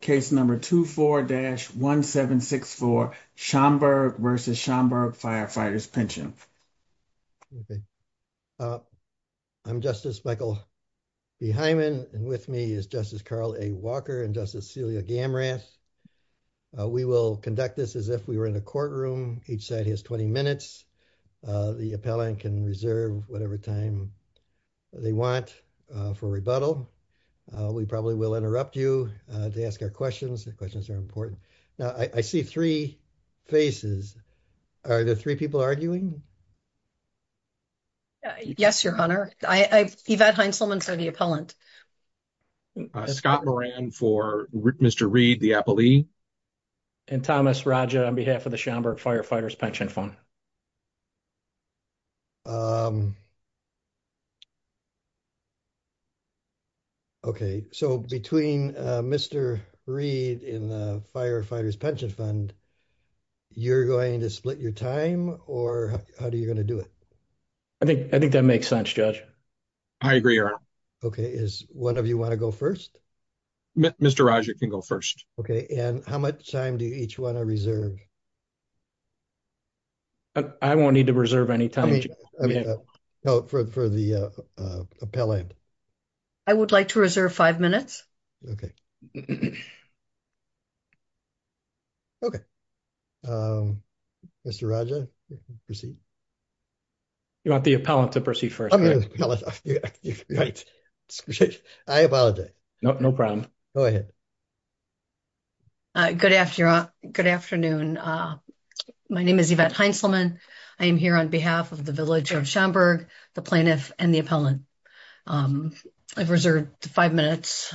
case number 24-1764 Schaumburg v. Schaumburg Firefighters' Pension. Okay, I'm Justice Michael B. Hyman and with me is Justice Carl A. Walker and Justice Celia Gamrath. We will conduct this as if we were in a courtroom. Each side has 20 minutes. The appellant can reserve whatever time they want for rebuttal. We probably will interrupt you to ask our questions. The questions are important. Now, I see three faces. Are the three people arguing? Yes, your honor. Yvette Heinzelman for the appellant. Scott Moran for Mr. Reed, the appellee. And Thomas Raja on behalf of the Schaumburg Firefighters' Pension Fund. Okay, so between Mr. Reed and the Firefighters' Pension Fund, you're going to split your time or how are you going to do it? I think that makes sense, Judge. I agree, your honor. Okay, is one of you want to go first? Mr. Raja can go first. Okay, and how much time do you each want to reserve? I won't need to reserve any time. No, for the appellant. I would like to reserve five minutes. Okay. Okay, Mr. Raja, proceed. You want the appellant to proceed first? Okay. I apologize. No problem. Go ahead. Good afternoon. My name is Yvette Heinzelman. I am here on behalf of the village of Schaumburg, the plaintiff, and the appellant. I've reserved five minutes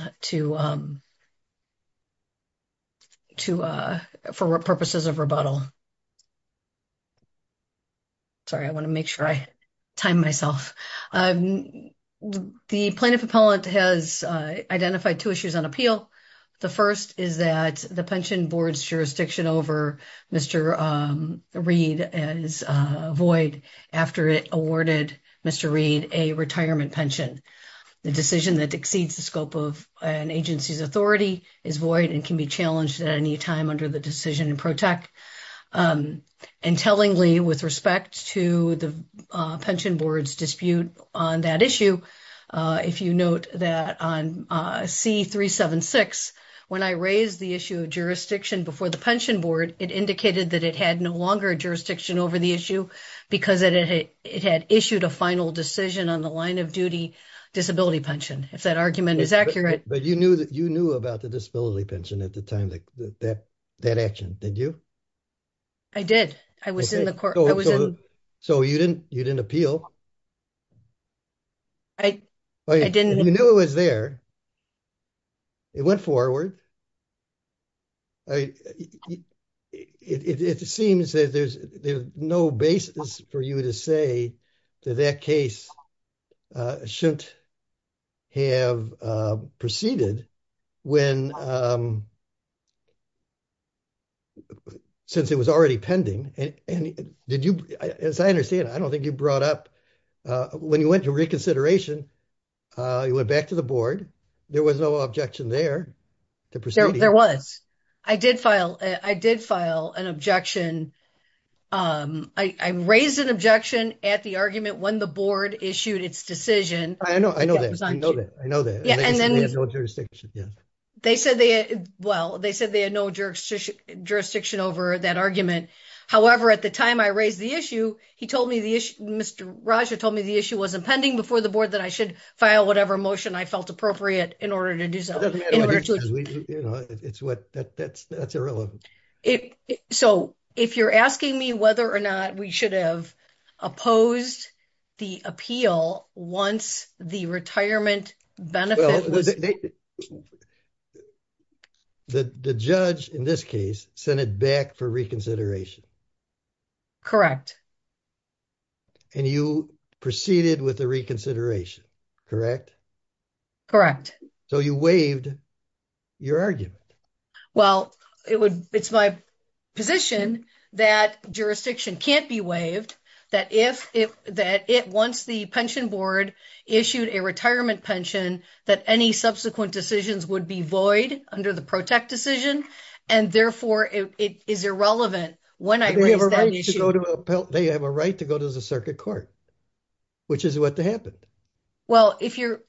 for purposes of rebuttal. Sorry, I want to make sure I time myself. The plaintiff appellant has identified two issues on appeal. The first is that the pension board's jurisdiction over Mr. Reed is void after it awarded Mr. Reed a retirement pension. The decision that exceeds the scope of an agency's authority is void and can be challenged at any time under the decision in pro-tech. Intellingly, with respect to the pension board's dispute on that issue, if you note that on C-376, when I raised the issue of jurisdiction before the pension board, it indicated that it had no longer a jurisdiction over the issue because it had issued a final decision on the line of duty disability pension, if that argument is accurate. But you knew about the disability did you? I did. I was in the court. So you didn't appeal? I didn't. You knew it was there. It went forward. It seems that there's no basis for you to say that that case shouldn't have proceeded when since it was already pending. And did you, as I understand, I don't think you brought up when you went to reconsideration, you went back to the board, there was no objection there. There was. I did file an objection. I raised an objection at the argument when the board issued its decision. I know that. I know that. They said they had no jurisdiction. Jurisdiction over that argument. However, at the time I raised the issue, he told me the issue, Mr. Raja told me the issue was impending before the board that I should file whatever motion I felt appropriate in order to do so. That's irrelevant. So if you're asking me whether or not we should have opposed the appeal once the retirement benefit was... The judge, in this case, sent it back for reconsideration. Correct. And you proceeded with the reconsideration, correct? Correct. So you waived your argument. Well, it's my position that jurisdiction can't be waived, that once the board issued a retirement pension, that any subsequent decisions would be void under the PROTEC decision. And therefore, it is irrelevant when I raised that issue. They have a right to go to the circuit court, which is what happened. Well,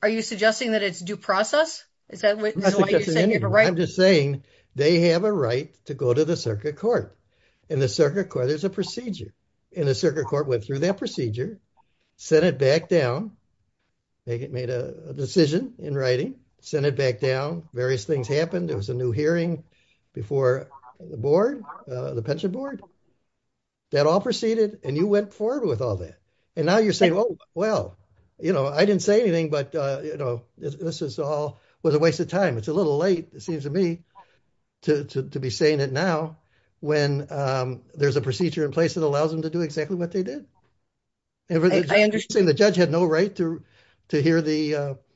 are you suggesting that it's due process? Is that why you're saying they have a right? I'm just saying they have a right to go to the circuit court. In the circuit court, there's a procedure. And the circuit court went through that procedure, sent it back down, made a decision in writing, sent it back down, various things happened. There was a new hearing before the board, the pension board. That all proceeded, and you went forward with all that. And now you're saying, well, I didn't say anything, but this is all a waste of time. It's a when there's a procedure in place that allows them to do exactly what they did. The judge had no right to hear their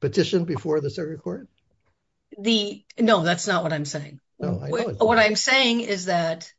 petition before the circuit court? No, that's not what I'm saying. What I'm saying is that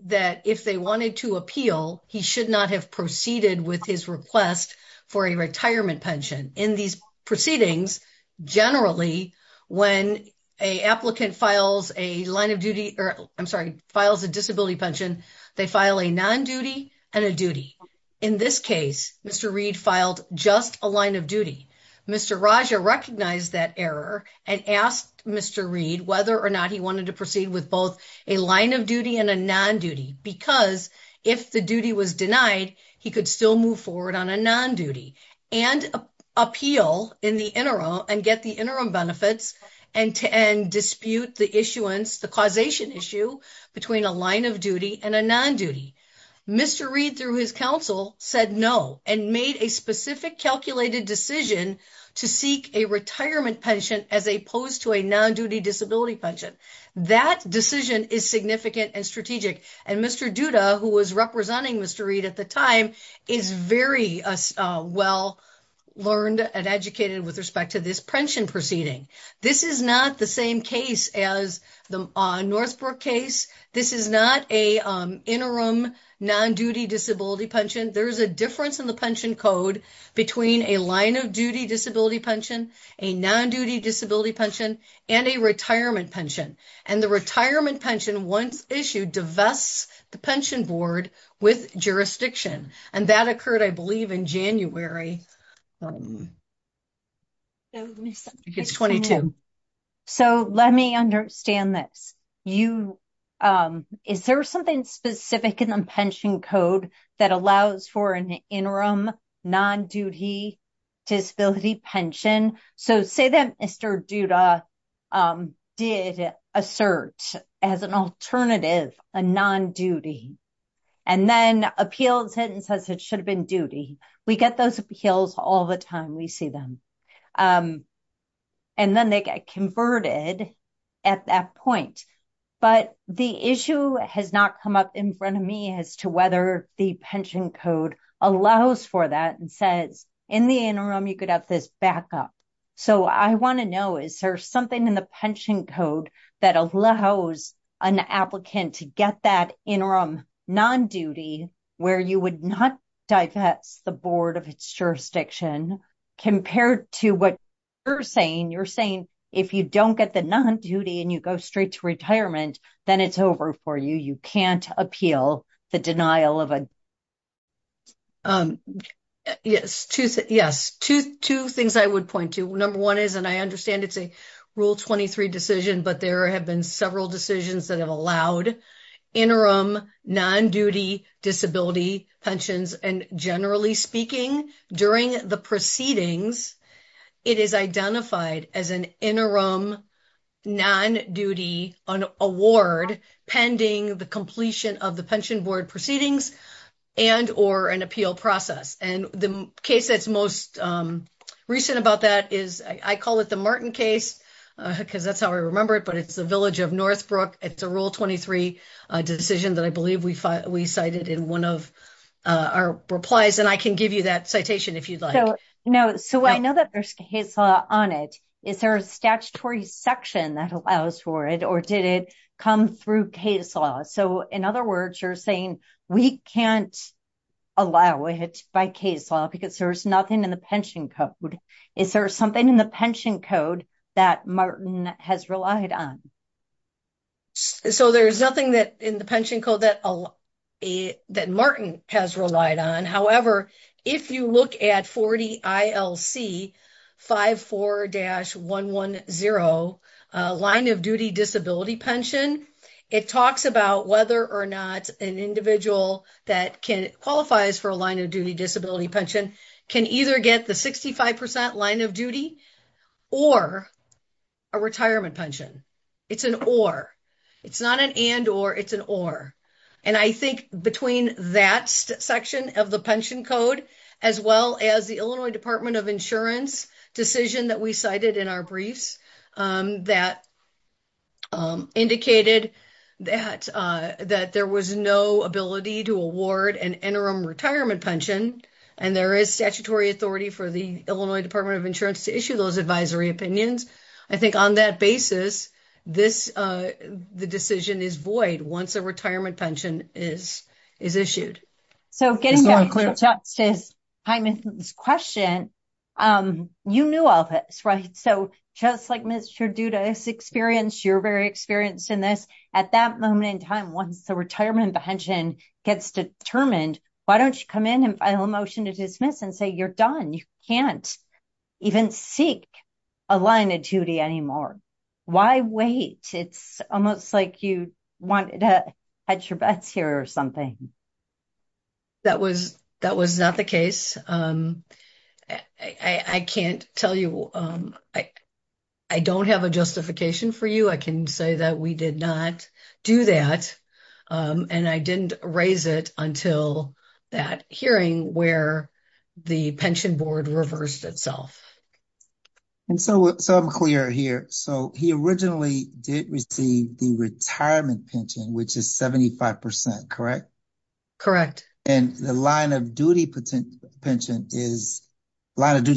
if they wanted to appeal, he should not have proceeded with his request for a retirement pension. In these proceedings, generally, when a applicant files a line of duty, or I'm sorry, files a disability pension, they file a non-duty and a duty. In this case, Mr. Reed filed just a line of duty. Mr. Raja recognized that error and asked Mr. Reed whether or not he wanted to proceed with both a line of duty and a non-duty because if the duty was denied, he could still move forward on a non-duty and appeal in the interim and get the interim benefits and dispute the issuance, the causation issue between a line of duty and a non-duty. Mr. Reed, through his counsel, said no and made a specific calculated decision to seek a retirement pension as opposed to a non-duty disability pension. That decision is significant and strategic. And Mr. Duda, who was representing Mr. Reed at the time, is very well learned and educated with respect to this pension proceeding. This is not the same case as the Northbrook case. This is not a interim non-duty disability pension. There's a difference in the pension code between a line of duty disability pension, a non-duty disability pension, and a retirement pension. And the retirement pension, once issued, divests the pension board with jurisdiction. And that occurred, I believe, in January. It's 22. So let me understand this. Is there something specific in the pension code that allows for an interim non-duty disability pension? So say that Mr. Duda did assert as an alternative a non-duty and then appeals it and says it should have been duty. We get those appeals all the time. We see them. And then they get converted at that point. But the issue has not come up in front of me as to whether the pension code allows for that and says in the interim you could have this backup. So I want to know, is there something in the pension code that allows an applicant to get that interim non-duty where you would not divest the board of its jurisdiction compared to what you're saying? You're saying if you don't get the non-duty and you go straight to retirement, then it's over for you. You can't appeal the denial of a... Yes. Two things I would point to. Number one is, and I understand it's a Rule 23 decision, but there have been several decisions that have allowed interim non-duty disability pensions. And generally speaking, during the proceedings, it is identified as an interim non-duty award pending the completion of the pension board proceedings and or an appeal process. And the case that's most recent about that is, I call it the Martin case because that's how I remember it, but it's the village of Northbrook. It's a Rule 23 decision that I believe we cited in one of our replies. And I can give you that citation if you'd like. No. So I know that there's a case law on it. Is there a statutory section that allows for it or did it come through case law? So in other words, you're saying we can't allow it by case law because there's nothing in the pension code. Is there something in the pension code that Martin has relied on? So there's nothing in the pension code that that Martin has relied on. However, if you look at 40 ILC 54-110 line of duty disability pension, it talks about whether or not an individual that qualifies for a line of duty disability pension can either get the 65% line of duty or a retirement pension. It's an or. It's not an and or. It's an or. And I think between that section of the pension code, as well as the Illinois Department of Insurance decision that we cited in our briefs that indicated that there was no ability to award an interim retirement pension and there is statutory authority for the Illinois Department of Insurance to issue those advisory opinions. I think on that basis, the decision is once a retirement pension is issued. So getting back to Justice Hyman's question, you knew all this, right? So just like Mr. Duda has experienced, you're very experienced in this. At that moment in time, once the retirement pension gets determined, why don't you come in and file a motion to dismiss and say you're done? You can't even seek a line of duty anymore. Why wait? It's almost like you wanted to hedge your bets here or something. That was not the case. I can't tell you. I don't have a justification for you. I can say that we did not do that. And I didn't raise it until that hearing where the pension board reversed itself. And so I'm clear here. So he originally did receive the retirement pension, which is 75%, correct? Correct. And the line of duty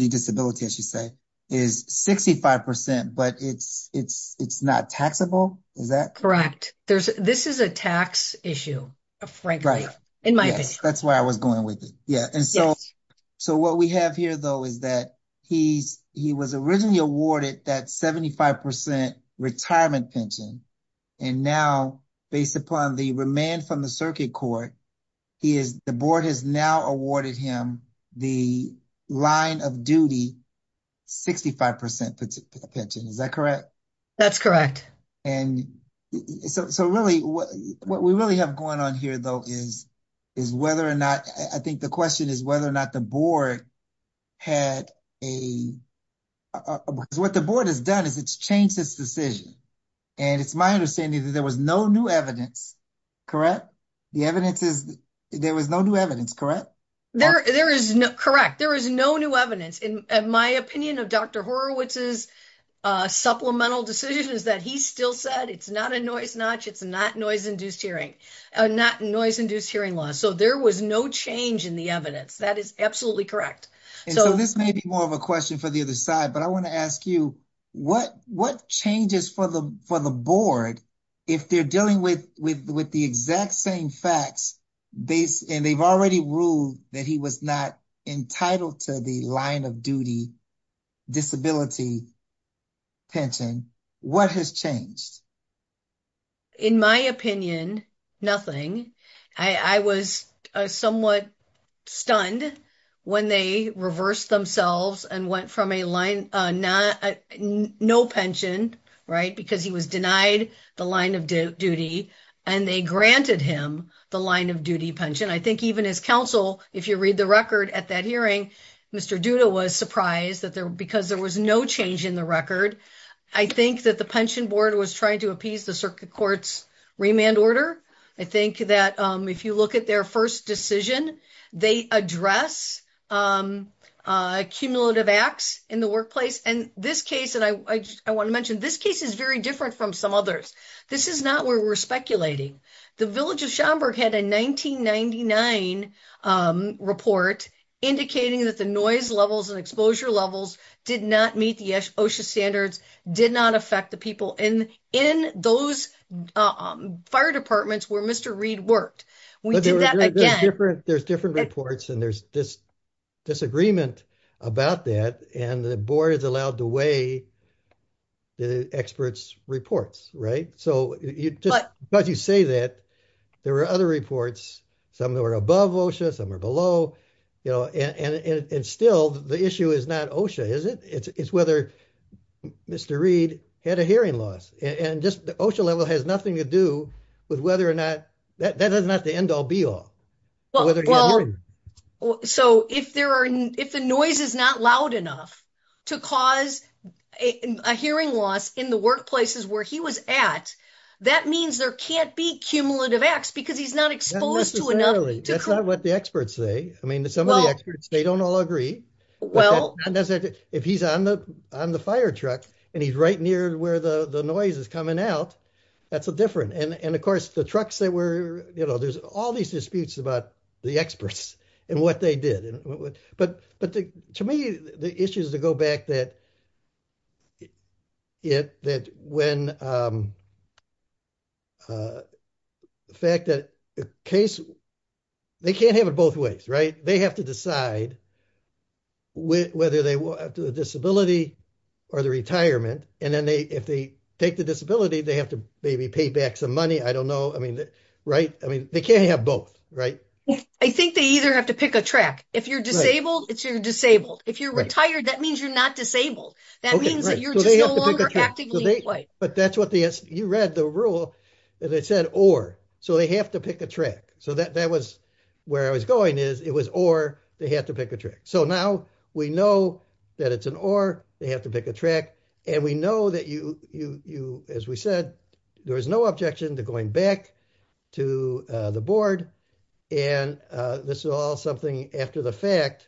disability, as you say, is 65%, but it's not taxable, is that? Correct. This is a tax issue, frankly, in my opinion. That's why I was going with it. And so what we have here, though, is that he was originally awarded that 75% retirement pension. And now, based upon the remand from the circuit court, the board has now awarded him the line of duty 65% pension. Is that correct? That's correct. And so really, what we really have going on here, though, is whether or not, I think the question is whether or not the board had a, because what the board has done is it's changed its decision. And it's my understanding that there was no new evidence, correct? There was no new evidence, correct? Correct. There is no new evidence. In my opinion of Dr. Horowitz's supplemental decisions that he still said, it's not a noise notch, it's not noise induced hearing, not noise induced hearing loss. So there was no change in the evidence. That is absolutely correct. And so this may be more of a question for the other side, but I want to ask you, what changes for the board, if they're dealing with the exact same facts, and they've already ruled that he was not entitled to the line of duty disability pension, what has changed? In my opinion, nothing. I was somewhat stunned when they reversed themselves and went from a no pension, right, because he was denied the line of duty, and they granted him the line of duty pension. I think even his counsel, if you read the record at that hearing, Mr. Duda was surprised because there was no change in the record. I think that the pension board was trying to appease the circuit court's remand order. I think that if you look at their first decision, they address cumulative acts in the workplace. And this case, and I want to mention, this case is very different from some others. This is not where we're speculating. The village of Schaumburg had a 1999 report indicating that the noise levels and exposure levels did not meet the OSHA standards, did not affect the people in those fire departments where Mr. Reed worked. We did that again. There's different reports, and there's disagreement about that, and the board is allowed to weigh the experts' reports, right? But you say that there were other reports, some that were above OSHA, some were below, you know, and still the issue is not OSHA, is it? It's whether Mr. Reed had a hearing loss, and just the OSHA level has nothing to do with whether or not, that is not the end all be all. So if the noise is not loud enough to cause a hearing loss in the workplaces where he was at, that means there can't be cumulative acts because he's not exposed to enough. That's not what the experts say. I mean, some of the experts, they don't all agree. If he's on the fire truck, and he's right near where the noise is coming out, that's different. And of course, the trucks that were, you know, there's all these disputes about the experts and what they did. But to me, the issue is to go back that it, that when the fact that the case, they can't have it both ways, right? They have to decide whether they will have the disability or the retirement. And then they, if they take the disability, they have to maybe pay back some money. I don't know. I mean, right? I mean, they can't have both, right? I think they either have to pick a track. If you're disabled, it's, you're disabled. If you're retired, that means you're not disabled. That means that you're just no longer actively employed. But that's what the, you read the rule and it said, or, so they have to pick a track. So that, that was where I was going is it was, or they have to pick a track. So now we know that it's an or they have to pick a track. And we know that you, you, you, as we said, there was no objection to going back to the board. And this is all something after the fact.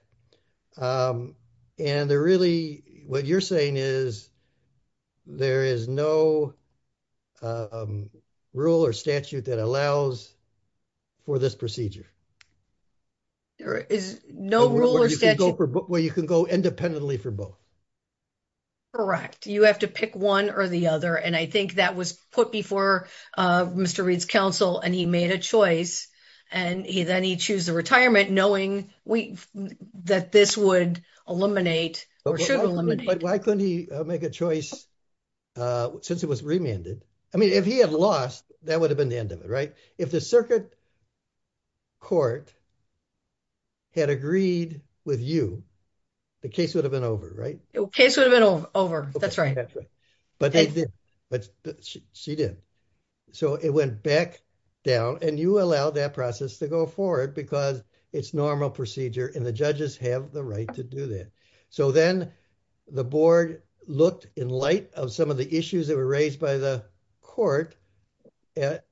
And they're really, what you're saying is there is no rule or statute that allows for this procedure. There is no rule or statute where you can go independently for both. Correct. You have to pick one or the other. And I think that was put before Mr. Reid's choice. And he, then he choose the retirement knowing that this would eliminate or should eliminate. But why couldn't he make a choice since it was remanded? I mean, if he had lost, that would have been the end of it, right? If the circuit court had agreed with you, the case would have been over, right? The case would have been over. That's right. But she did. So it went back down and you allow that process to go forward because it's normal procedure and the judges have the right to do that. So then the board looked in light of some of the issues that were raised by the court at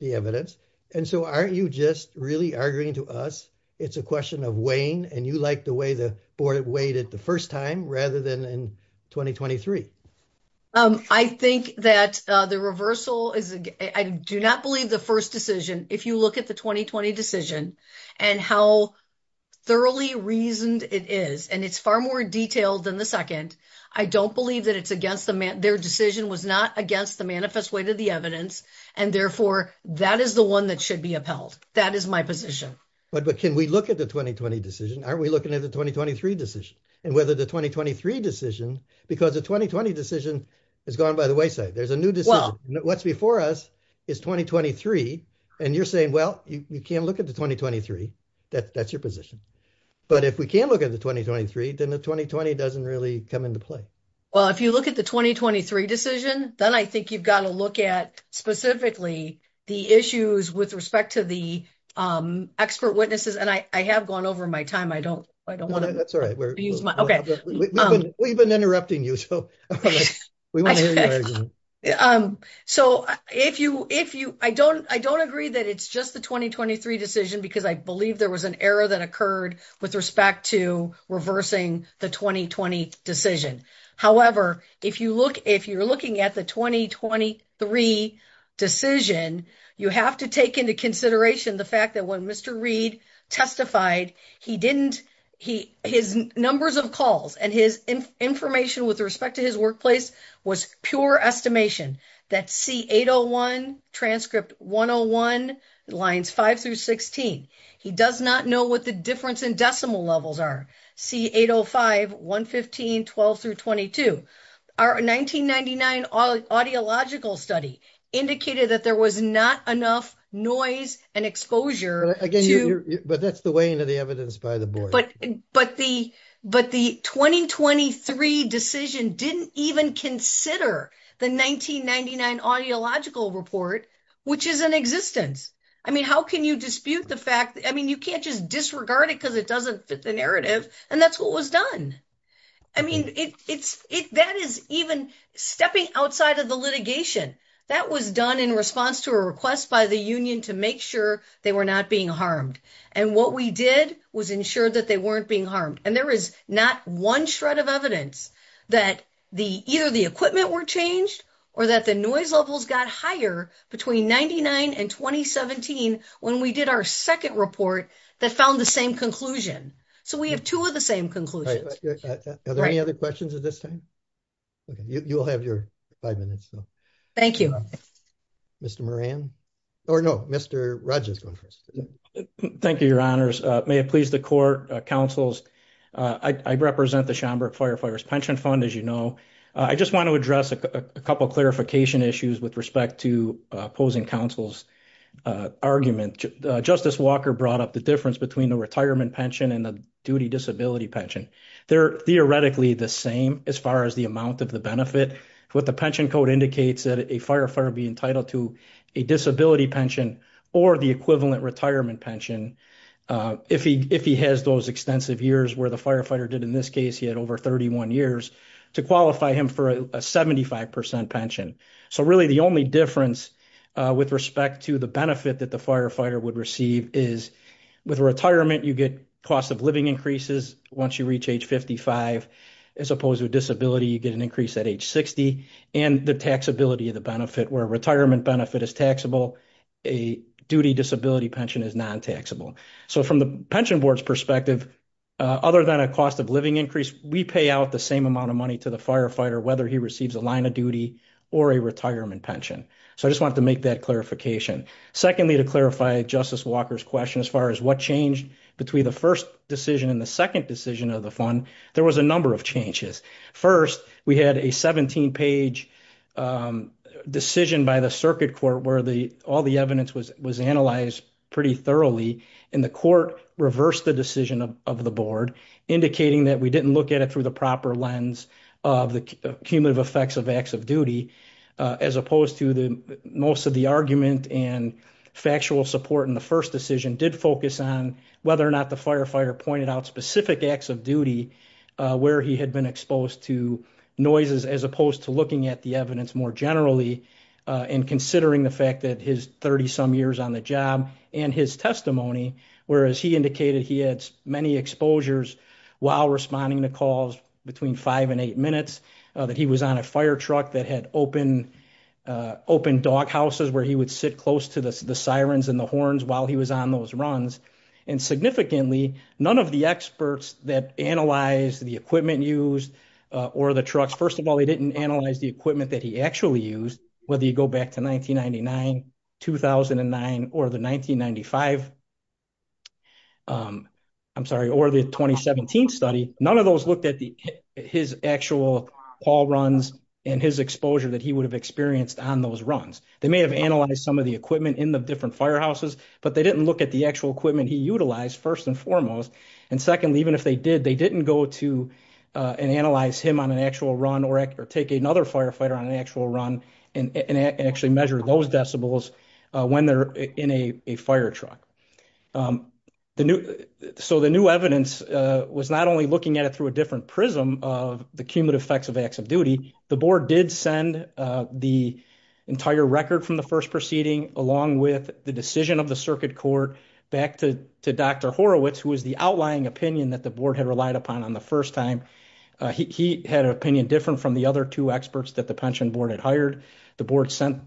the evidence. And so aren't you just really arguing to us? It's a question of weighing and you liked the way the board weighed it the time rather than in 2023. I think that the reversal is, I do not believe the first decision. If you look at the 2020 decision and how thoroughly reasoned it is, and it's far more detailed than the second. I don't believe that it's against the man. Their decision was not against the manifest way to the evidence. And therefore that is the one that should be upheld. That is my position. But can we look at the 2020 decision? Aren't we looking at the 2023 decision and whether the 2023 decision, because the 2020 decision has gone by the wayside. There's a new decision. What's before us is 2023. And you're saying, well, you can't look at the 2023. That's your position. But if we can look at the 2023, then the 2020 doesn't really come into play. Well, if you look at the 2023 decision, then I think you've got to look at specifically the issues with respect to the expert witnesses. And I have gone over my time. I don't want to use my, okay. We've been interrupting you. So we want to hear your argument. So if you, if you, I don't, I don't agree that it's just the 2023 decision because I believe there was an error that occurred with respect to reversing the 2020 decision. However, if you look, if you're looking at the 2023 decision, you have to take into consideration the fact that when Mr. Reed testified, he didn't, he, his numbers of calls and his information with respect to his workplace was pure estimation that C801 transcript 101 lines five through 16. He does not know what the difference in decimal levels are. C805, 115, 12 through 22. Our 1999 audiological study indicated that there was not enough noise and exposure. But that's the way into the evidence by the board. But, but the, but the 2023 decision didn't even consider the 1999 audiological report, which is an existence. I mean, how can you dispute the fact that, I mean, you can't just disregard it because it doesn't fit the narrative and that's what was done. I mean, it's, it, that is even stepping outside of the litigation that was done in response to a request by the union to make sure they were not being harmed. And what we did was ensure that they weren't being harmed. And there is not one shred of evidence that the, either the equipment were changed or that the noise levels got higher between 99 and 2017. When we did our second report that found the same conclusion. So we have two of the same conclusions. Are there any other questions at this time? Okay. You'll have your five minutes. Thank you, Mr. Moran or no, Mr. Rogers. Thank you, your honors. May it please the court councils. I represent the Schomburg Firefighters Pension Fund. As you know, I just want to address a couple of clarification issues with respect to opposing counsel's argument. Justice Walker brought up the difference between the retirement pension and the duty disability pension. They're theoretically the same as far as the amount of the benefit with the pension code indicates that a firefighter be entitled to a disability pension or the equivalent retirement pension. If he, if he has those extensive years where the firefighter did in this case, he had over 31 years to qualify him for a 75% pension. So really the only difference with respect to the benefit that the firefighter would receive is with retirement, you get cost of living increases. Once you reach age 55, as opposed to a disability, you get an increase at age 60 and the taxability of the benefit where retirement benefit is taxable. A duty disability pension is non-taxable. So from the pension board's perspective, other than a cost of living increase, we pay out the same amount of money to the firefighter, whether he receives a line of duty or a retirement pension. So I just wanted to make that clarification. Secondly, to clarify justice Walker's question, as far as what changed between the first decision and the second decision of the fund, there was a number of changes. First, we had a 17 page decision by the circuit court where the, all the evidence was, was analyzed pretty thoroughly and the court reversed the decision of the board indicating that we didn't it through the proper lens of the cumulative effects of acts of duty, as opposed to the, most of the argument and factual support in the first decision did focus on whether or not the firefighter pointed out specific acts of duty where he had been exposed to noises, as opposed to looking at the evidence more generally and considering the fact that his 30 some years on the job and his testimony, whereas he indicated he had many exposures while responding to calls between five and eight minutes that he was on a fire truck that had open, open dog houses where he would sit close to the sirens and the horns while he was on those runs. And significantly, none of the experts that analyze the equipment used or the trucks, first of all, they didn't analyze the equipment that he actually used, whether you go back to 1999, 2009, or the 1995, I'm sorry, or the 2017 study. None of those looked at the, his actual call runs and his exposure that he would have experienced on those runs. They may have analyzed some of the equipment in the different firehouses, but they didn't look at the actual equipment he utilized first and foremost. And secondly, even if they did, they didn't go to and analyze him on an actual run or take another firefighter on an actual run and actually measure those decibels when they're in a fire truck. So the new evidence was not only looking at it through a different prism of the cumulative effects of acts of duty. The board did send the entire record from the first proceeding along with the decision of the circuit court back to Dr. Horowitz, who was the outlying opinion that the board had relied upon on the first time. He had an opinion different from the other two experts that the pension board had hired. The board sent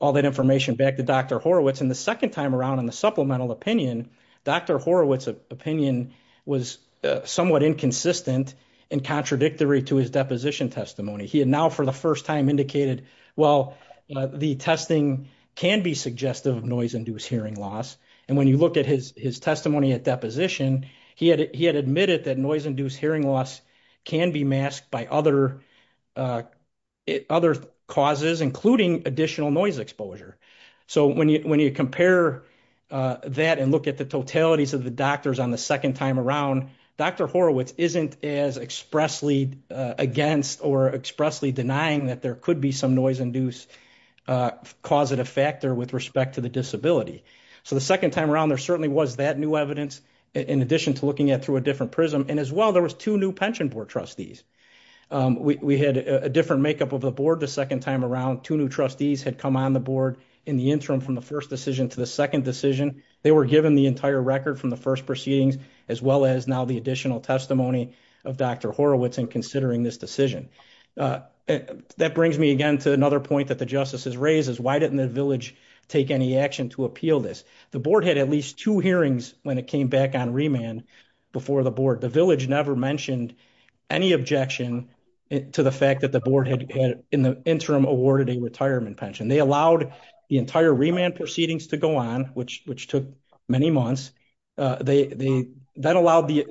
all that information back to Dr. Horowitz. And the second time around in the supplemental opinion, Dr. Horowitz's opinion was somewhat inconsistent and contradictory to his deposition testimony. He had now for the first time indicated, well, the testing can be suggestive of noise-induced hearing loss. And when you look at his testimony at deposition, he had admitted that noise-induced hearing loss can be masked by other causes, including additional noise exposure. So when you compare that and look at the totalities of the doctors on the second time around, Dr. Horowitz isn't as expressly against or expressly denying that there could be some noise-induced causative factor with respect to the disability. So the second time around, there certainly was that new evidence in addition to looking at through a different prism. And as well, there was two new pension board trustees. We had a different makeup of the board the second time around. Two new trustees had come on the board in the interim from the first decision to the second decision. They were given the entire record from the first proceedings, as well as now the additional testimony of Dr. Horowitz in considering this decision. That brings me again to another point that the justices raised is why didn't the village take any action to appeal this? The board had at least two hearings when it came back on remand before the board. The village never mentioned any objection to the fact that the board had in the interim awarded a retirement pension. They allowed the entire remand proceedings to go on, which took many months. That allowed the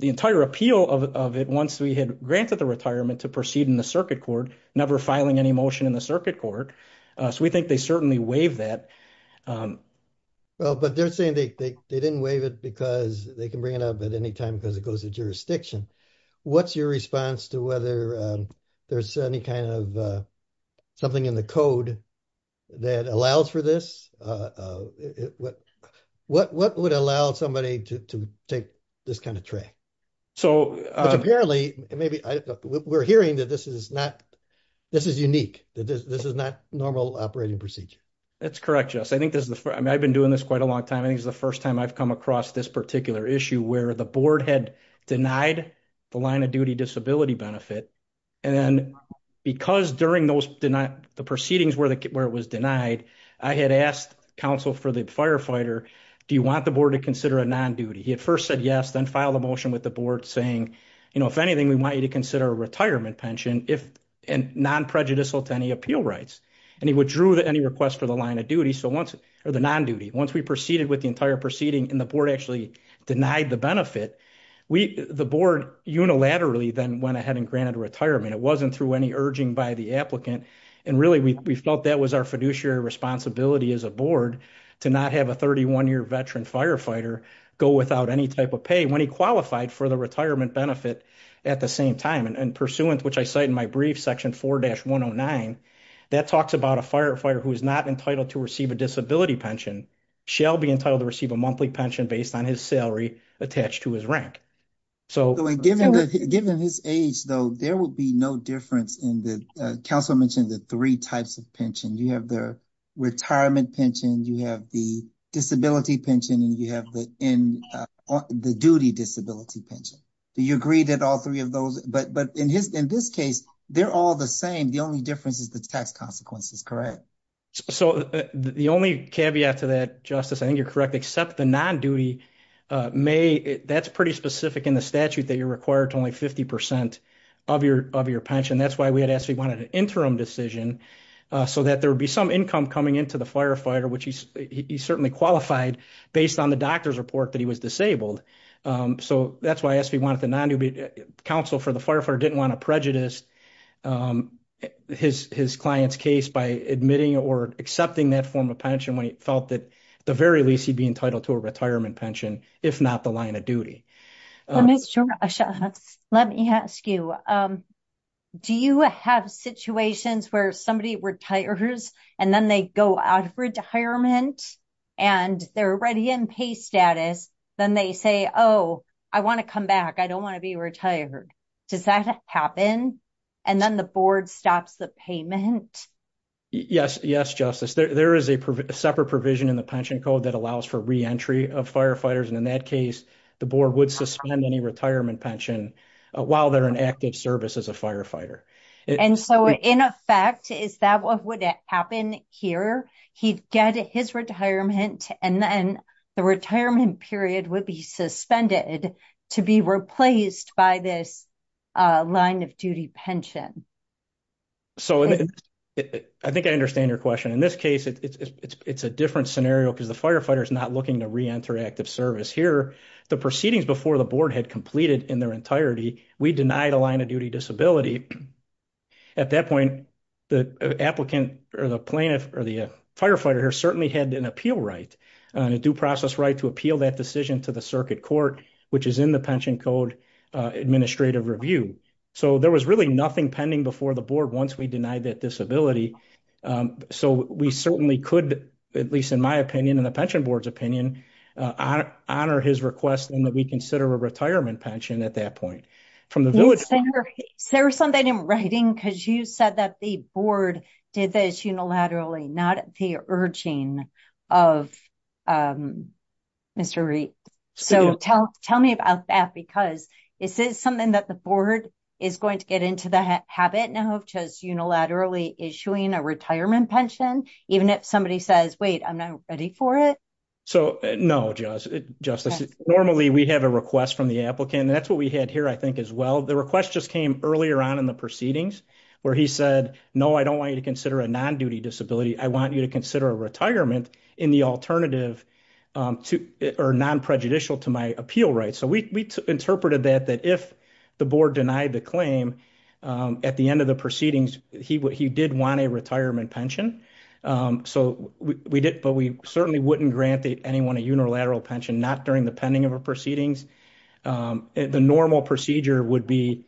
entire appeal of it once we had granted the retirement to proceed in the circuit court, never filing any motion in the circuit court. So we think they certainly waived that. Well, but they're saying they didn't waive it because they can bring it up at any time because it goes to jurisdiction. What's your response to whether there's any kind of something in the code that allows for this? What would allow somebody to take this kind of tray? Apparently, we're hearing that this is unique, that this is not normal operating procedure. That's correct, Jess. I've been doing this quite a long time. I think it's the first time I've come across this particular issue where the board had denied the line of duty disability benefit. And because during the proceedings where it was denied, I had asked counsel for the firefighter, do you want the board to consider a non-duty? He had first said yes, then filed a motion with the board saying, if anything, we want you to consider a retirement pension and non-prejudicial to any appeal rights. And he withdrew any request for the line of duty or the non-duty. Once we proceeded with the entire proceeding and the board actually denied the benefit, the board unilaterally then went ahead and granted retirement. It wasn't through any urging by the applicant. And really, we felt that was our fiduciary responsibility as a board to not have a 31-year veteran firefighter go without any type of pay when he qualified for the retirement benefit at the same time. And pursuant, which I cite in my brief, section 4-109, that talks about a firefighter who is not entitled to receive a disability pension shall be entitled to receive a monthly pension based on his salary attached to his rank. So given his age, though, there will be no difference in the, counsel mentioned the three types of pension. You have the retirement pension, you have the disability pension, and you have the duty disability pension. Do you agree that all three of those, but in this case, they're all the same. The only difference is the tax is correct. So the only caveat to that, Justice, I think you're correct, except the non-duty may, that's pretty specific in the statute that you're required to only 50% of your pension. That's why we had asked, we wanted an interim decision so that there would be some income coming into the firefighter, which he certainly qualified based on the doctor's report that he was disabled. So that's why I asked, we wanted the non-duty counsel for the firefighter want to prejudice his client's case by admitting or accepting that form of pension when he felt that the very least he'd be entitled to a retirement pension, if not the line of duty. Let me ask you, do you have situations where somebody retires and then they go out of retirement and they're already in pay status, then they say, oh, I want to come back. I don't want to be retired. Does that happen? And then the board stops the payment? Yes, Justice. There is a separate provision in the pension code that allows for re-entry of firefighters. And in that case, the board would suspend any retirement pension while they're in active service as a firefighter. And so in effect, is that what would happen here? He'd get his retirement and then the retirement period would be suspended to be replaced by this line of duty pension. So I think I understand your question. In this case, it's a different scenario because the firefighter is not looking to re-enter active service. Here, the proceedings before the board had completed in their entirety, we denied a line of duty disability. At that point, the applicant or the plaintiff or the firefighter certainly had an appeal right and a due process right to appeal that decision to the circuit court, which is in the pension code administrative review. So there was really nothing pending before the board once we denied that disability. So we certainly could, at least in my opinion and the pension board's opinion, honor his request and that we consider a retirement pension at that point. There was something in writing because you said that the board did this unilaterally, not at the urging of Mr. Reid. So tell me about that because is this something that the board is going to get into the habit now of just unilaterally issuing a retirement pension, even if somebody says, wait, I'm not ready for it? So no, Justice. Normally, we have a request from the applicant. That's what we had here, as well. The request just came earlier on in the proceedings where he said, no, I don't want you to consider a non-duty disability. I want you to consider a retirement in the alternative or non-prejudicial to my appeal rights. So we interpreted that if the board denied the claim at the end of the proceedings, he did want a retirement pension. But we certainly wouldn't grant anyone a unilateral pension, not during the pending proceedings. The normal procedure would be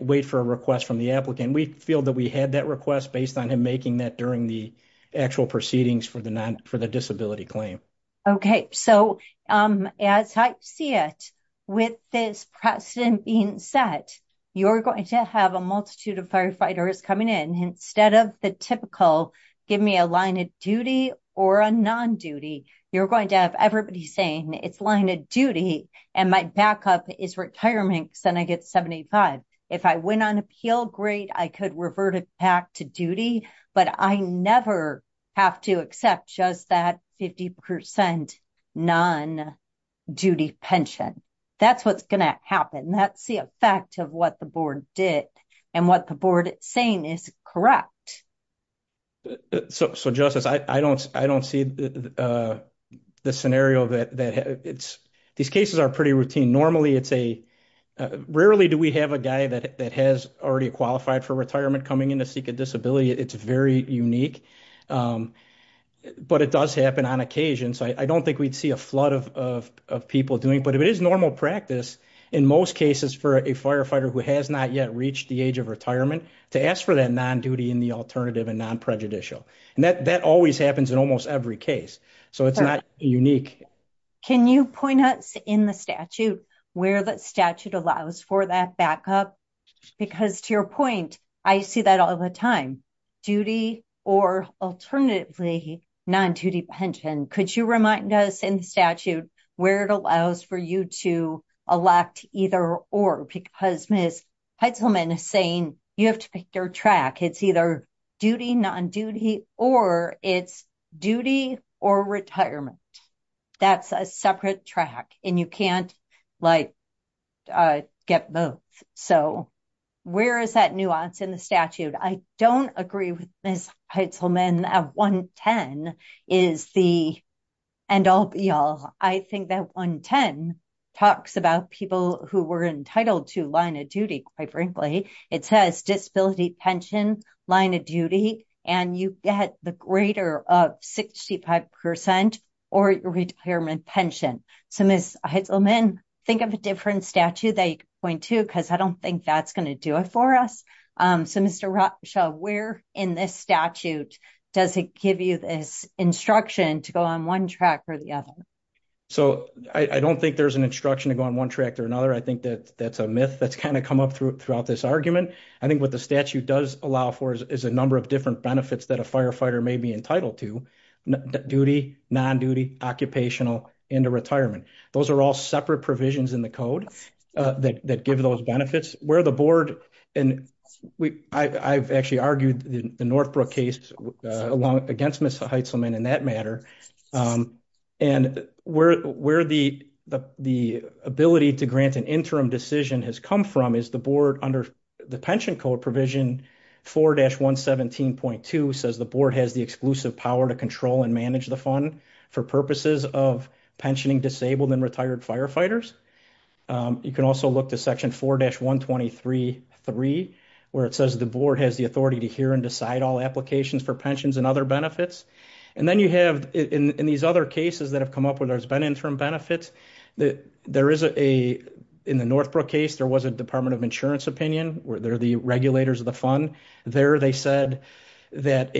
wait for a request from the applicant. We feel that we had that request based on him making that during the actual proceedings for the disability claim. Okay. So as I see it, with this precedent being set, you're going to have a multitude of firefighters coming in. Instead of the typical, give me a line of duty or a non-duty, you're going to have everybody saying it's line of duty, and my backup is retirement, because then I get 75. If I went on appeal, great, I could revert it back to duty, but I never have to accept just that 50% non-duty pension. That's what's going to happen. That's the effect of what the board did and what the board is saying is correct. So, Justice, I don't see the scenario that... These cases are pretty routine. Normally, it's a... Rarely do we have a guy that has already qualified for retirement coming in to seek a disability. It's very unique, but it does happen on occasion. So I don't think we'd see a flood of people doing, but if it is normal practice, in most cases for a firefighter who has not yet reached the age of and non-prejudicial. That always happens in almost every case. So it's not unique. Can you point us in the statute where the statute allows for that backup? Because to your point, I see that all the time. Duty or alternatively non-duty pension. Could you remind us in the statute where it allows for you to elect either or? Because Ms. Heitzelman is saying you have to track. It's either duty, non-duty, or it's duty or retirement. That's a separate track and you can't get both. So where is that nuance in the statute? I don't agree with Ms. Heitzelman. That 110 is the... And I'll be all... I think that 110 talks about people who were entitled to line of pension, line of duty, and you get the greater of 65 percent or retirement pension. So Ms. Heitzelman, think of a different statute that you can point to because I don't think that's going to do it for us. So Mr. Rothschild, where in this statute does it give you this instruction to go on one track or the other? So I don't think there's an instruction to go on one track or another. I think that that's a myth that's kind of come up throughout this argument. I think what statute does allow for is a number of different benefits that a firefighter may be entitled to. Duty, non-duty, occupational, and a retirement. Those are all separate provisions in the code that give those benefits. Where the board... And I've actually argued the Northbrook case against Ms. Heitzelman in that matter. And where the ability to grant an interim decision has come from is the board under the pension code provision 4-117.2 says the board has the exclusive power to control and manage the fund for purposes of pensioning disabled and retired firefighters. You can also look to section 4-123.3 where it says the board has the authority to hear and decide all applications for pensions and other benefits. And then you have in these other cases that have interim benefits, there is a... In the Northbrook case, there was a Department of Insurance opinion where they're the regulators of the fund. There they said that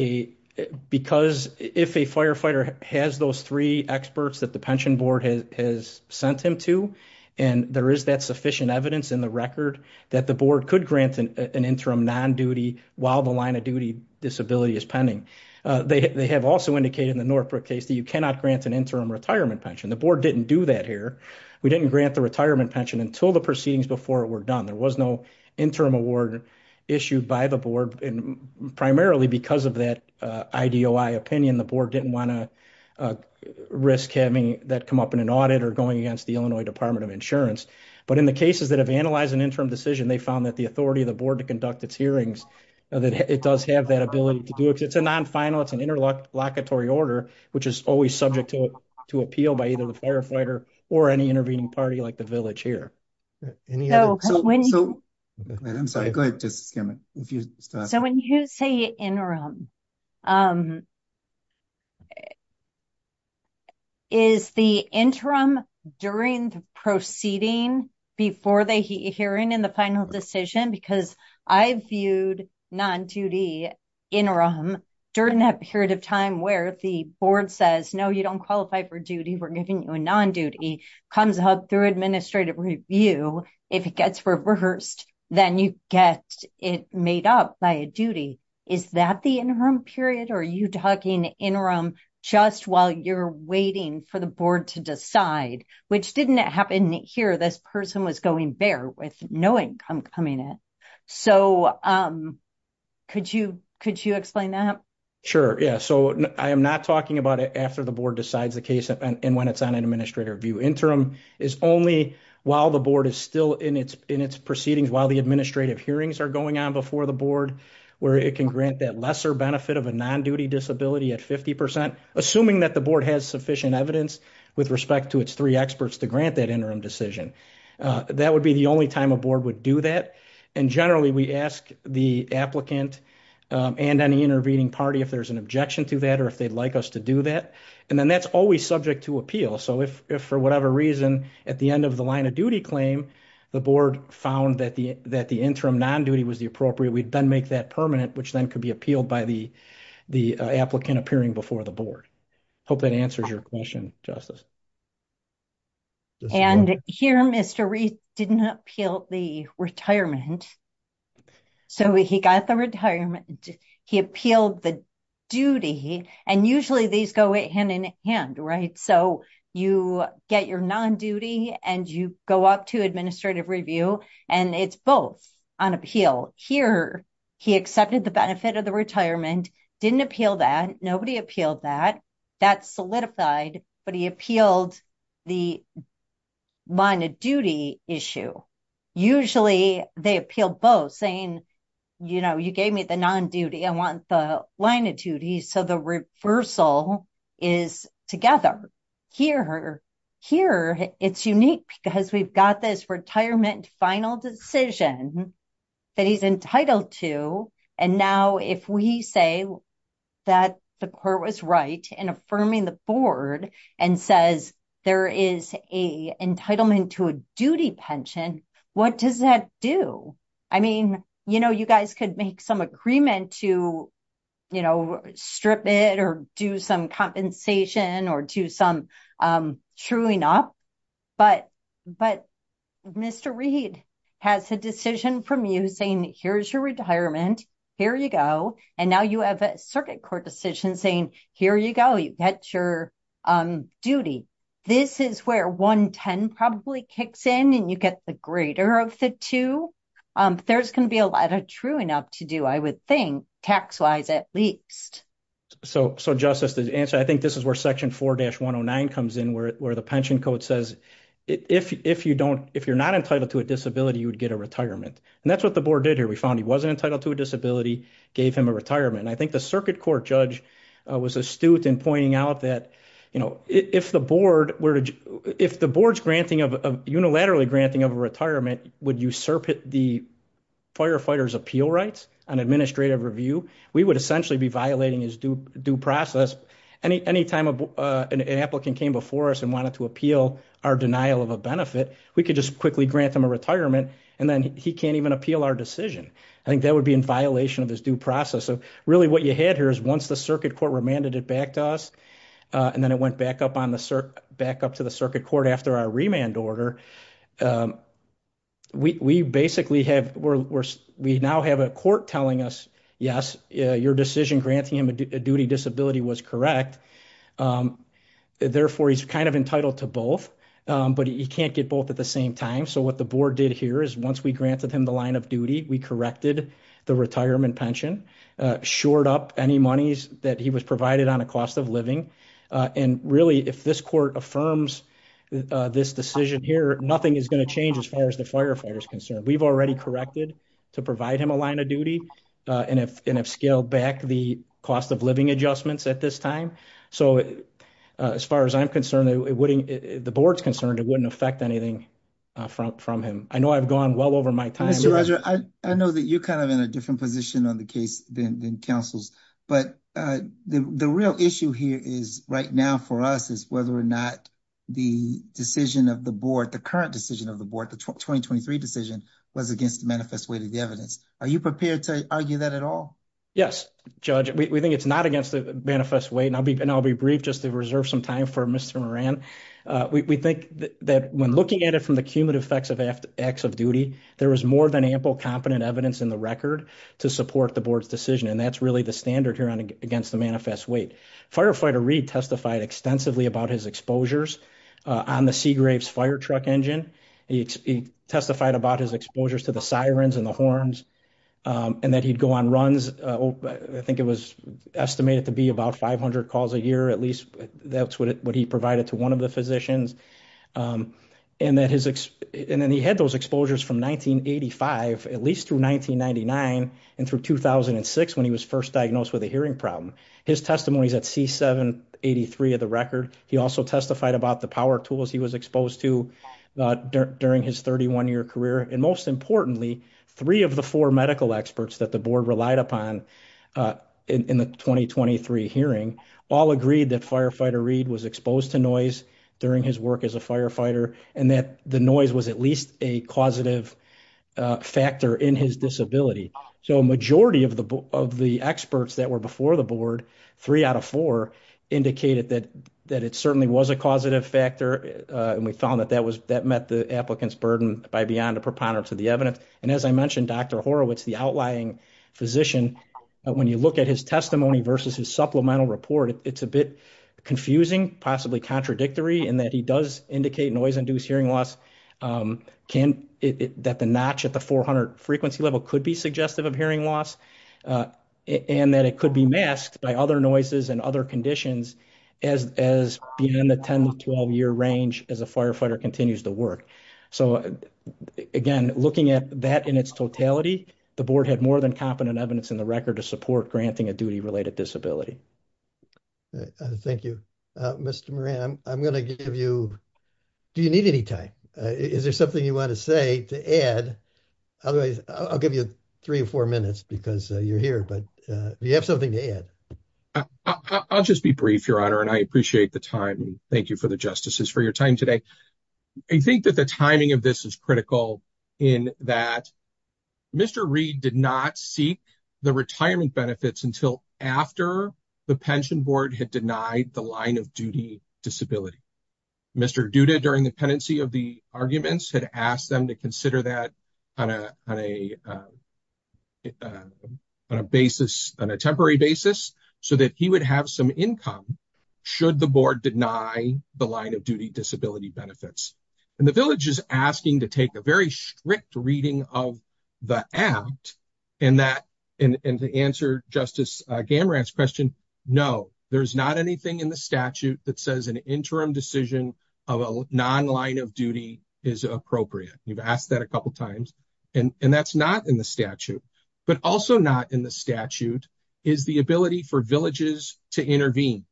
because if a firefighter has those three experts that the pension board has sent him to, and there is that sufficient evidence in the record that the board could grant an interim non-duty while the line of duty disability is pending. They have also indicated in the Northbrook case that you cannot grant an interim retirement pension. The board didn't do that here. We didn't grant the retirement pension until the proceedings before it were done. There was no interim award issued by the board and primarily because of that IDOI opinion, the board didn't want to risk having that come up in an audit or going against the Illinois Department of Insurance. But in the cases that have analyzed an interim decision, they found that the authority of the board to conduct its hearings, that it does have that ability to do it. It's a non-final, it's an interlocutory order, which is always subject to appeal by either the firefighter or any intervening party like the village here. So when you say interim, is the interim during the proceeding before the hearing in the final decision? Because I've viewed non-duty interim during that period of time where the board says, no, you don't qualify for duty, we're giving you a non-duty, comes up through administrative review. If it gets reversed, then you get it made up by a duty. Is that the interim period or are you talking interim just while you're waiting for the board to decide? Which didn't happen here. This person was going bare with no income coming in. So could you explain that? Sure. Yeah. So I am not talking about it after the board decides the case and when it's on administrative review. Interim is only while the board is still in its proceedings, while the administrative hearings are going on before the board, where it can grant that lesser benefit of a non-duty disability at 50%, assuming that the board has sufficient evidence with respect to its three experts to grant that interim decision. That would be the only time a board would do that. And generally, we ask the applicant and any intervening party if there's an objection to that or if they'd like us to do that. And then that's always subject to appeal. So if for whatever reason, at the end of the line of duty claim, the board found that the interim non-duty was the appropriate, we'd then make that permanent, which then could be appealed by the applicant appearing before the board. Hope that answers your question, Justice. And here, Mr. Reed didn't appeal the retirement. So he got the retirement. He appealed the duty. And usually these go hand in hand, right? So you get your non-duty and you go up to administrative review and it's both on appeal. Here, he accepted the benefit of the retirement, didn't appeal that. Nobody appealed that. That's saying, you gave me the non-duty. I want the line of duty. So the reversal is together. Here, it's unique because we've got this retirement final decision that he's entitled to. And now, if we say that the court was right in affirming the board and says there is a entitlement to a you know, you guys could make some agreement to, you know, strip it or do some compensation or do some chewing up. But Mr. Reed has a decision from you saying here's your retirement. Here you go. And now you have a circuit court decision saying, here you go. You get your duty. This is where 110 probably kicks in and you get the greater of the two. There's going to be a lot of true enough to do, I would think, tax-wise at least. So Justice, to answer, I think this is where section 4-109 comes in where the pension code says if you're not entitled to a disability, you would get a retirement. And that's what the board did here. We found he wasn't entitled to a disability, gave him a retirement. I think the circuit court judge was astute in pointing out that, you know, if the board's unilaterally granting of a retirement would usurp the firefighter's appeal rights on administrative review, we would essentially be violating his due process. Any time an applicant came before us and wanted to appeal our denial of a benefit, we could just quickly grant them a retirement and then he can't even appeal our decision. I think that would be in violation of his due process. So really what you had here is once circuit court remanded it back to us and then it went back up to the circuit court after our remand order, we basically have, we now have a court telling us, yes, your decision granting him a duty disability was correct. Therefore, he's kind of entitled to both, but he can't get both at the same time. So what the board did here is once we granted him the line of duty, we corrected the retirement pension, shored up any monies that he was provided on a cost of living. And really, if this court affirms this decision here, nothing is going to change as far as the firefighter's concerned. We've already corrected to provide him a line of duty and have scaled back the cost of living adjustments at this time. So as far as I'm concerned, the board's concerned it wouldn't affect anything from him. I know I've gone well over my time. I know that you're kind of in a different position on the case than councils, but the real issue here is right now for us is whether or not the decision of the board, the current decision of the board, the 2023 decision was against the manifest way to the evidence. Are you prepared to argue that at all? Yes, judge, we think it's not against the manifest way and I'll be brief just to reserve some time for Mr. Moran. We think that when looking at it from the cumulative effects of acts of duty, there was more than ample competent evidence in the record to support the board's decision. And that's really the standard here on against the manifest weight. Firefighter Reed testified extensively about his exposures on the Seagraves firetruck engine. He testified about his exposures to the sirens and the horns and that he'd go on runs. I think it was estimated to be about 500 calls a year, at least that's what he provided to one of the physicians. Um, and that his, and then he had those exposures from 1985, at least through 1999 and through 2006 when he was first diagnosed with a hearing problem, his testimonies at C7 83 of the record. He also testified about the power tools he was exposed to during his 31 year career. And most importantly, three of the four medical experts that the board relied upon, uh, in the 2023 hearing all agreed that firefighter Reed was exposed to noise during his work as a firefighter and that the noise was at least a causative, uh, factor in his disability. So majority of the, of the experts that were before the board, three out of four indicated that, that it certainly was a causative factor. Uh, and we found that that was, that met the applicant's burden by beyond a preponderance of the evidence. And as I mentioned, Dr. Horowitz, the outlying physician, when you look at his testimony versus his supplemental report, it's a bit confusing, possibly contradictory, and that he does indicate noise induced hearing loss. Um, can it, that the notch at the 400 frequency level could be suggestive of hearing loss, uh, and that it could be masked by other noises and other conditions as, as being in the 10 to 12 year range as a firefighter continues to work. So again, looking at that in its totality, the board had more than competent evidence in record to support granting a duty related disability. Thank you. Uh, Mr. Moran, I'm, I'm going to give you, do you need any time? Uh, is there something you want to say to add? Otherwise I'll give you three or four minutes because you're here, but, uh, you have something to add. I'll just be brief, your honor, and I appreciate the time. Thank you for the justices for your time today. I think that the timing of this is critical in that Mr. Reed did not seek the retirement benefits until after the pension board had denied the line of duty disability. Mr. Duda during the pendency of the arguments had asked them to consider that on a, on a, uh, on a basis, on a temporary basis so that he would have some income should the board deny the line of duty disability benefits. And the village is asking to take a very strict reading of the act and that, and to answer justice, uh, Gamera's question. No, there's not anything in the statute that says an interim decision of a non-line of duty is appropriate. You've asked that a couple of times and that's not in the statute, but also not in the statute is the ability for villages to intervene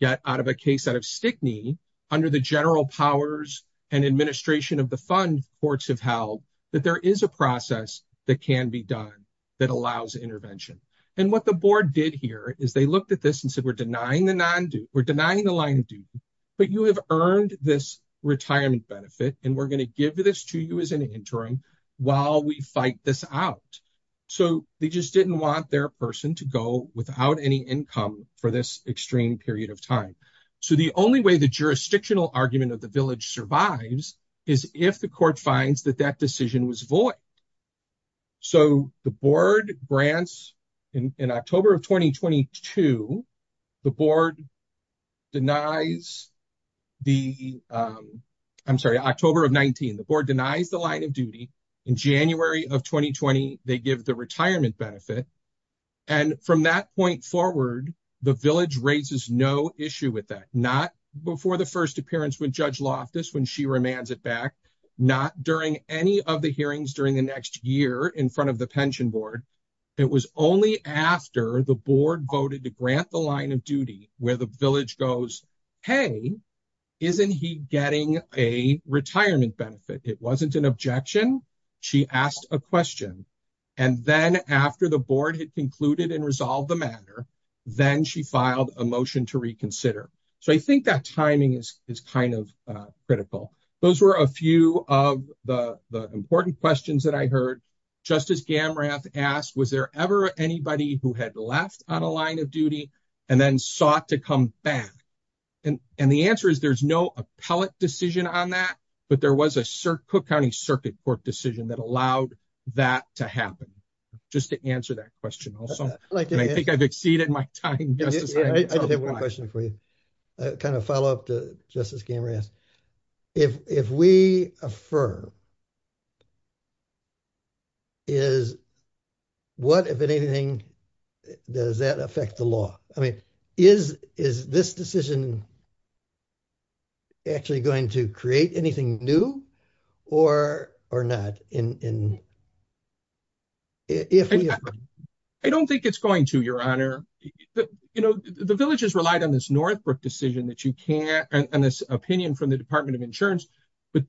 yet out of a case out of Stickney under the general powers and administration of the fund courts have held that there is a process that can be done that allows intervention. And what the board did here is they looked at this and said, we're denying the non-due we're denying the line of duty, but you have earned this retirement benefit. And we're going to give this to you as an interim while we fight this out. So they just didn't want their person to go without any income for this extreme period of time. So the only way the jurisdictional argument of the village survives is if the court finds that that decision was void. So the board grants in October of 2022, the board denies the, um, I'm sorry, October of 19, the board denies the line of duty in January of 2020, they give the retirement benefit. And from that point forward, the village raises no issue with that. Not before the first appearance with judge Loftus, when she remands it back, not during any of the hearings during the next year in front of the pension board. It was only after the board voted to grant the line of duty where the village goes, Hey, isn't he getting a retirement benefit? It wasn't an objection. She asked a question. And then after the board had concluded and resolved the matter, then she filed a motion to reconsider. So I think that timing is kind of critical. Those were a few of the important questions that I heard. Justice Gamrath asked, was there ever anybody who had left on a line of duty and then sought to come back? And the answer is there's no appellate decision on that, but there was a Cook County circuit court decision that allowed that to happen. Just to answer that question. I think I've exceeded my time. I just have one question for you. Kind of follow up to Justice Gamrath. If we affirm, is what, if anything, does that affect the law? I mean, is this decision actually going to create anything new or not? I don't think it's going to, your honor. The village has relied on this Northbrook decision that you can't, and this opinion from the department of insurance, but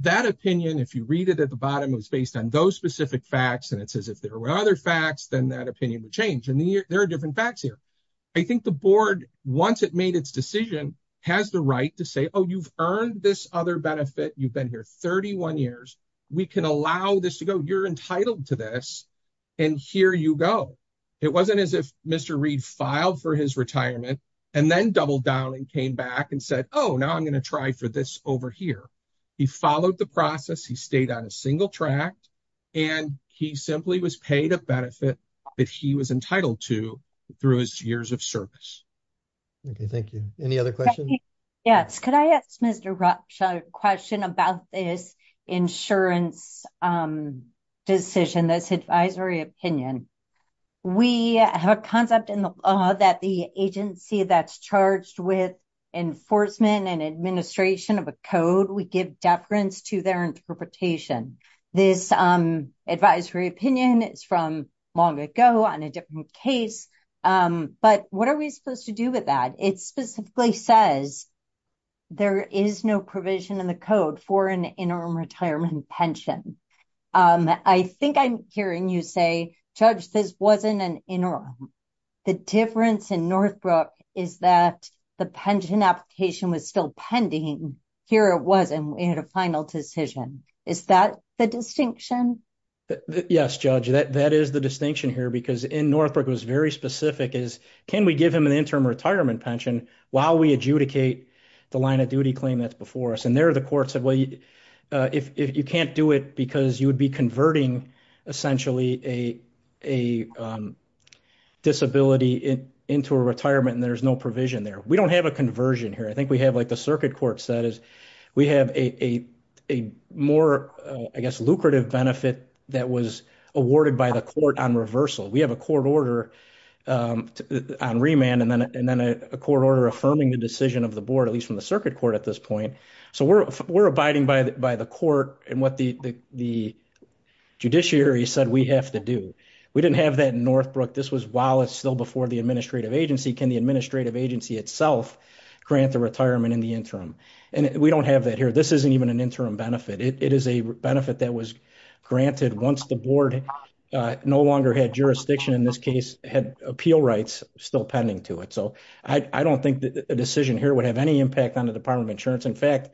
that opinion, if you read it at the bottom, it was based on those specific facts. And it says, if there were other facts, then that opinion would change. And there are different facts here. I think the board, once it made its decision, has the right to say, oh, you've earned this other benefit. You've been here 31 years. We can allow this to go. You're entitled to this. And here you go. It wasn't as if Mr. Reed filed for his retirement and then doubled down and came back and said, oh, now I'm going to try for this over here. He followed the process. He stayed on single track and he simply was paid a benefit that he was entitled to through his years of service. Okay. Thank you. Any other questions? Yes. Could I ask Mr. Rocha a question about this insurance decision, this advisory opinion? We have a concept in the law that the agency that's charged with enforcement and administration of a code, we give deference to their interpretation. This advisory opinion is from long ago on a different case. But what are we supposed to do with that? It specifically says there is no provision in the code for an interim retirement pension. I think I'm hearing you say, Judge, this wasn't an interim. The difference in Northbrook is that the pension application was still pending. Here it wasn't. We had a final decision. Is that the distinction? Yes, Judge. That is the distinction here because in Northbrook it was very specific. Can we give him an interim retirement pension while we adjudicate the line of duty claim that's before us? And there the court said, well, you can't do it because you would be converting essentially a disability into a retirement and there's no provision there. We have a more lucrative benefit that was awarded by the court on reversal. We have a court order on remand and then a court order affirming the decision of the board, at least from the circuit court at this point. So we're abiding by the court and what the judiciary said we have to do. We didn't have that in Northbrook. This was while it's still before the administrative agency. Can itself grant the retirement in the interim? And we don't have that here. This isn't even an interim benefit. It is a benefit that was granted once the board no longer had jurisdiction in this case, had appeal rights still pending to it. So I don't think that a decision here would have any impact on the Department of Insurance. In fact,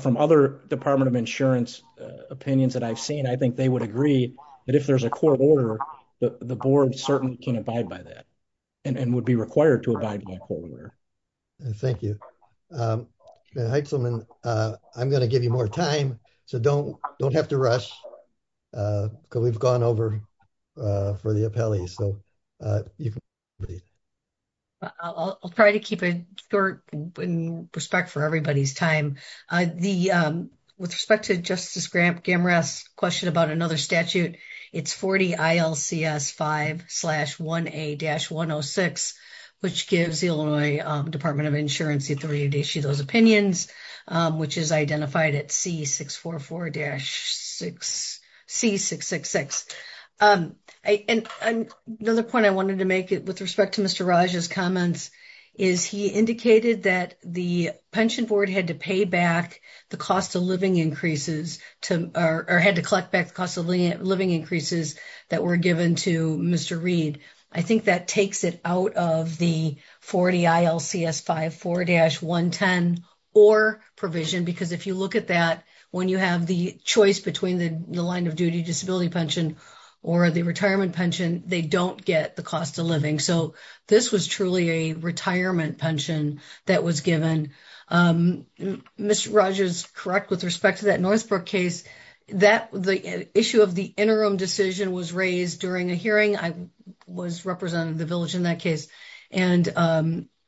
from other Department of Insurance opinions that I've seen, I think they would agree that if there's a court order, the board certainly can abide by that and would be required to abide by court order. Thank you. I'm going to give you more time. So don't have to rush because we've gone over for the appellee. So you can read. I'll try to keep it short in respect for everybody's time. The with respect to Justice Graham Gamera's question about another statute, it's 40 ILCS 5 slash 1A dash 106, which gives the Illinois Department of Insurance authority to issue those opinions, which is identified at C644 dash 6 C666. And another point I wanted to make it with respect to Mr. Raj's comments is he indicated that the pension board had to pay back the cost of living increases or had to collect back the cost of living increases that were given to Mr. Reed. I think that takes it out of the 40 ILCS 5 4 dash 110 or provision, because if you look at that, when you have the choice between the line of duty disability pension or the retirement pension, they don't get the cost of living. So this was truly a retirement pension that was given. Mr. Raj is correct with respect to that Northbrook case that the issue of the interim decision was raised during a hearing. I was representing the village in that case, and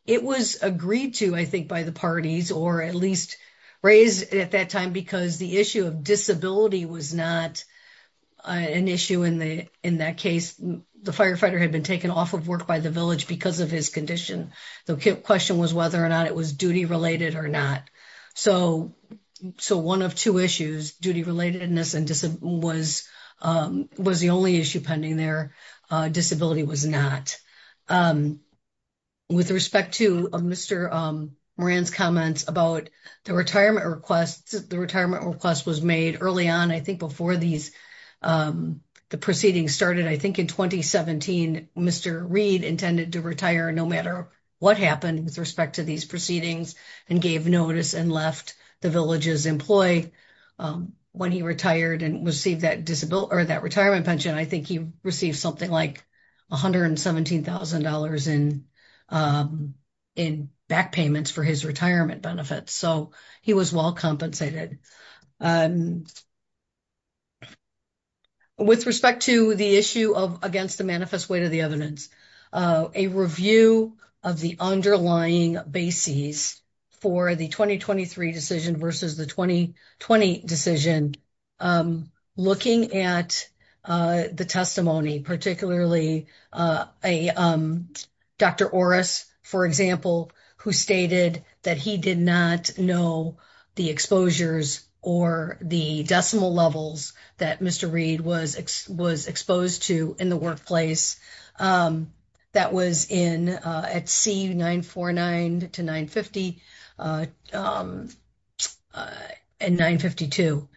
it was agreed to, I think, by the parties or at least raised at that time because the issue of disability was not an issue in that case. The firefighter had been taken off of work by the village because of his condition. The question was whether or not it was duty related or not. So one of two issues, duty relatedness was the only issue pending there, disability was not. With respect to Mr. Moran's comments about the retirement request, the retirement request was early on. I think before the proceedings started, I think in 2017, Mr. Reed intended to retire no matter what happened with respect to these proceedings and gave notice and left the village's employee when he retired and received that retirement pension. I think he received something like $117,000 in back payments for his retirement benefits. So he was well compensated. And with respect to the issue of against the manifest weight of the evidence, a review of the underlying bases for the 2023 decision versus the 2020 decision, looking at the testimony, particularly Dr. Orris, for example, who stated that he did not know the exposures or the decimal levels that Mr. Reed was exposed to in the workplace that was at C949 to 950 and 952.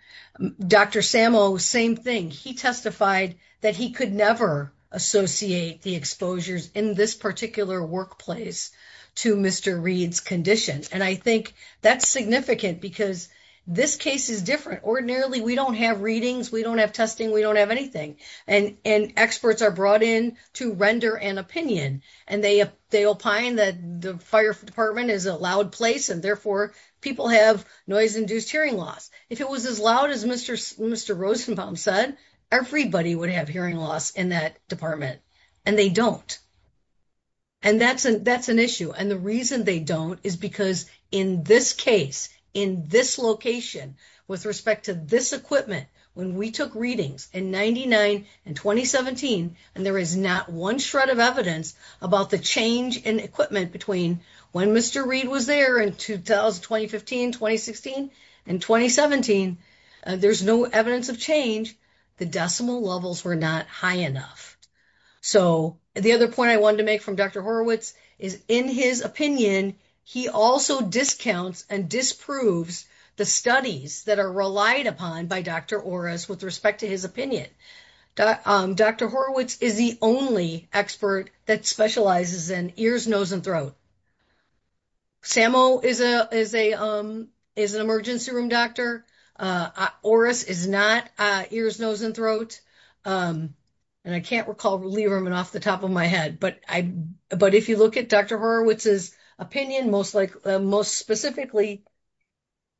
Dr. Sammo, same thing. He testified that he could never associate the exposures in this particular workplace to Mr. Reed's condition. And I think that's significant because this case is different. Ordinarily, we don't have readings, we don't have testing, we don't have anything. And experts are brought in to render an opinion, and they opine that the fire department is a loud place and therefore people have noise-induced hearing loss. If it was as loud as Mr. Rosenbaum said, everybody would have hearing loss in that department, and they don't. And that's an issue. And the reason they don't is because in this case, in this location, with respect to this equipment, when we took readings in 99 and 2017, and there is not one shred of evidence about the change in equipment between when Mr. Reed was there in 2015, 2016, and 2017, there's no evidence of change, the decimal levels were not high enough. So the other point I wanted to make from Dr. Horowitz is in his opinion, he also discounts and disproves the studies that are relied upon by Dr. Oris with respect to his opinion. Dr. Horowitz is the only expert that specializes in ears, nose, and throat. Sammo is an emergency room doctor. Oris is not ears, nose, and throat. And I can't recall Lieberman off the top of my head, but if you look at Dr. Horowitz's opinion, most specifically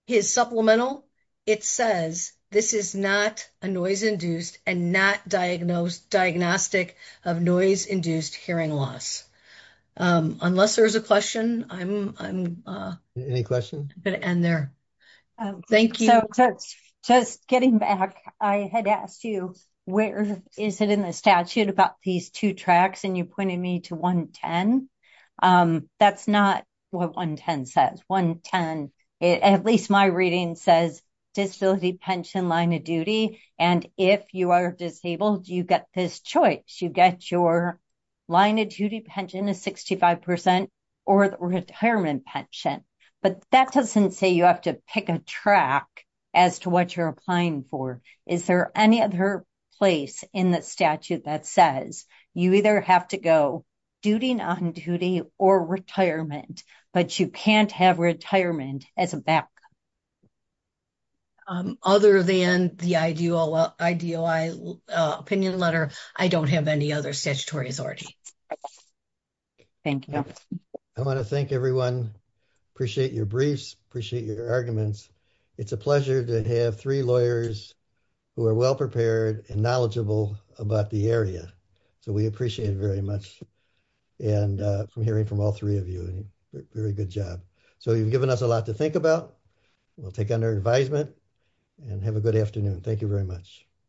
his supplemental, it says this is not a noise-induced and not diagnostic of noise-induced hearing loss. Unless there's a question, I'm going to end there. Thank you. Just getting back, I had asked you, where is it in the statute about these two tracks, and you pointed me to 110. That's not what 110 says. At least my reading says disability, pension, line of duty. And if you are disabled, you get this choice. You get your line of duty pension is 65% or the retirement pension. But that doesn't say you have to pick a track as to what you're applying for. Is there any other place in the statute that says you either have to go duty, non-duty, or retirement, but you can't have retirement as a back? Other than the IDOI opinion letter, I don't have any other statutory authority. Thank you. I want to thank everyone. Appreciate your briefs. Appreciate your arguments. It's a pleasure to have three lawyers who are well-prepared and knowledgeable about the area. So we appreciate it very much. And from hearing from all three of you, very good job. So you've given us a lot to think about. We'll take on their advisement and have a good afternoon. Thank you very much.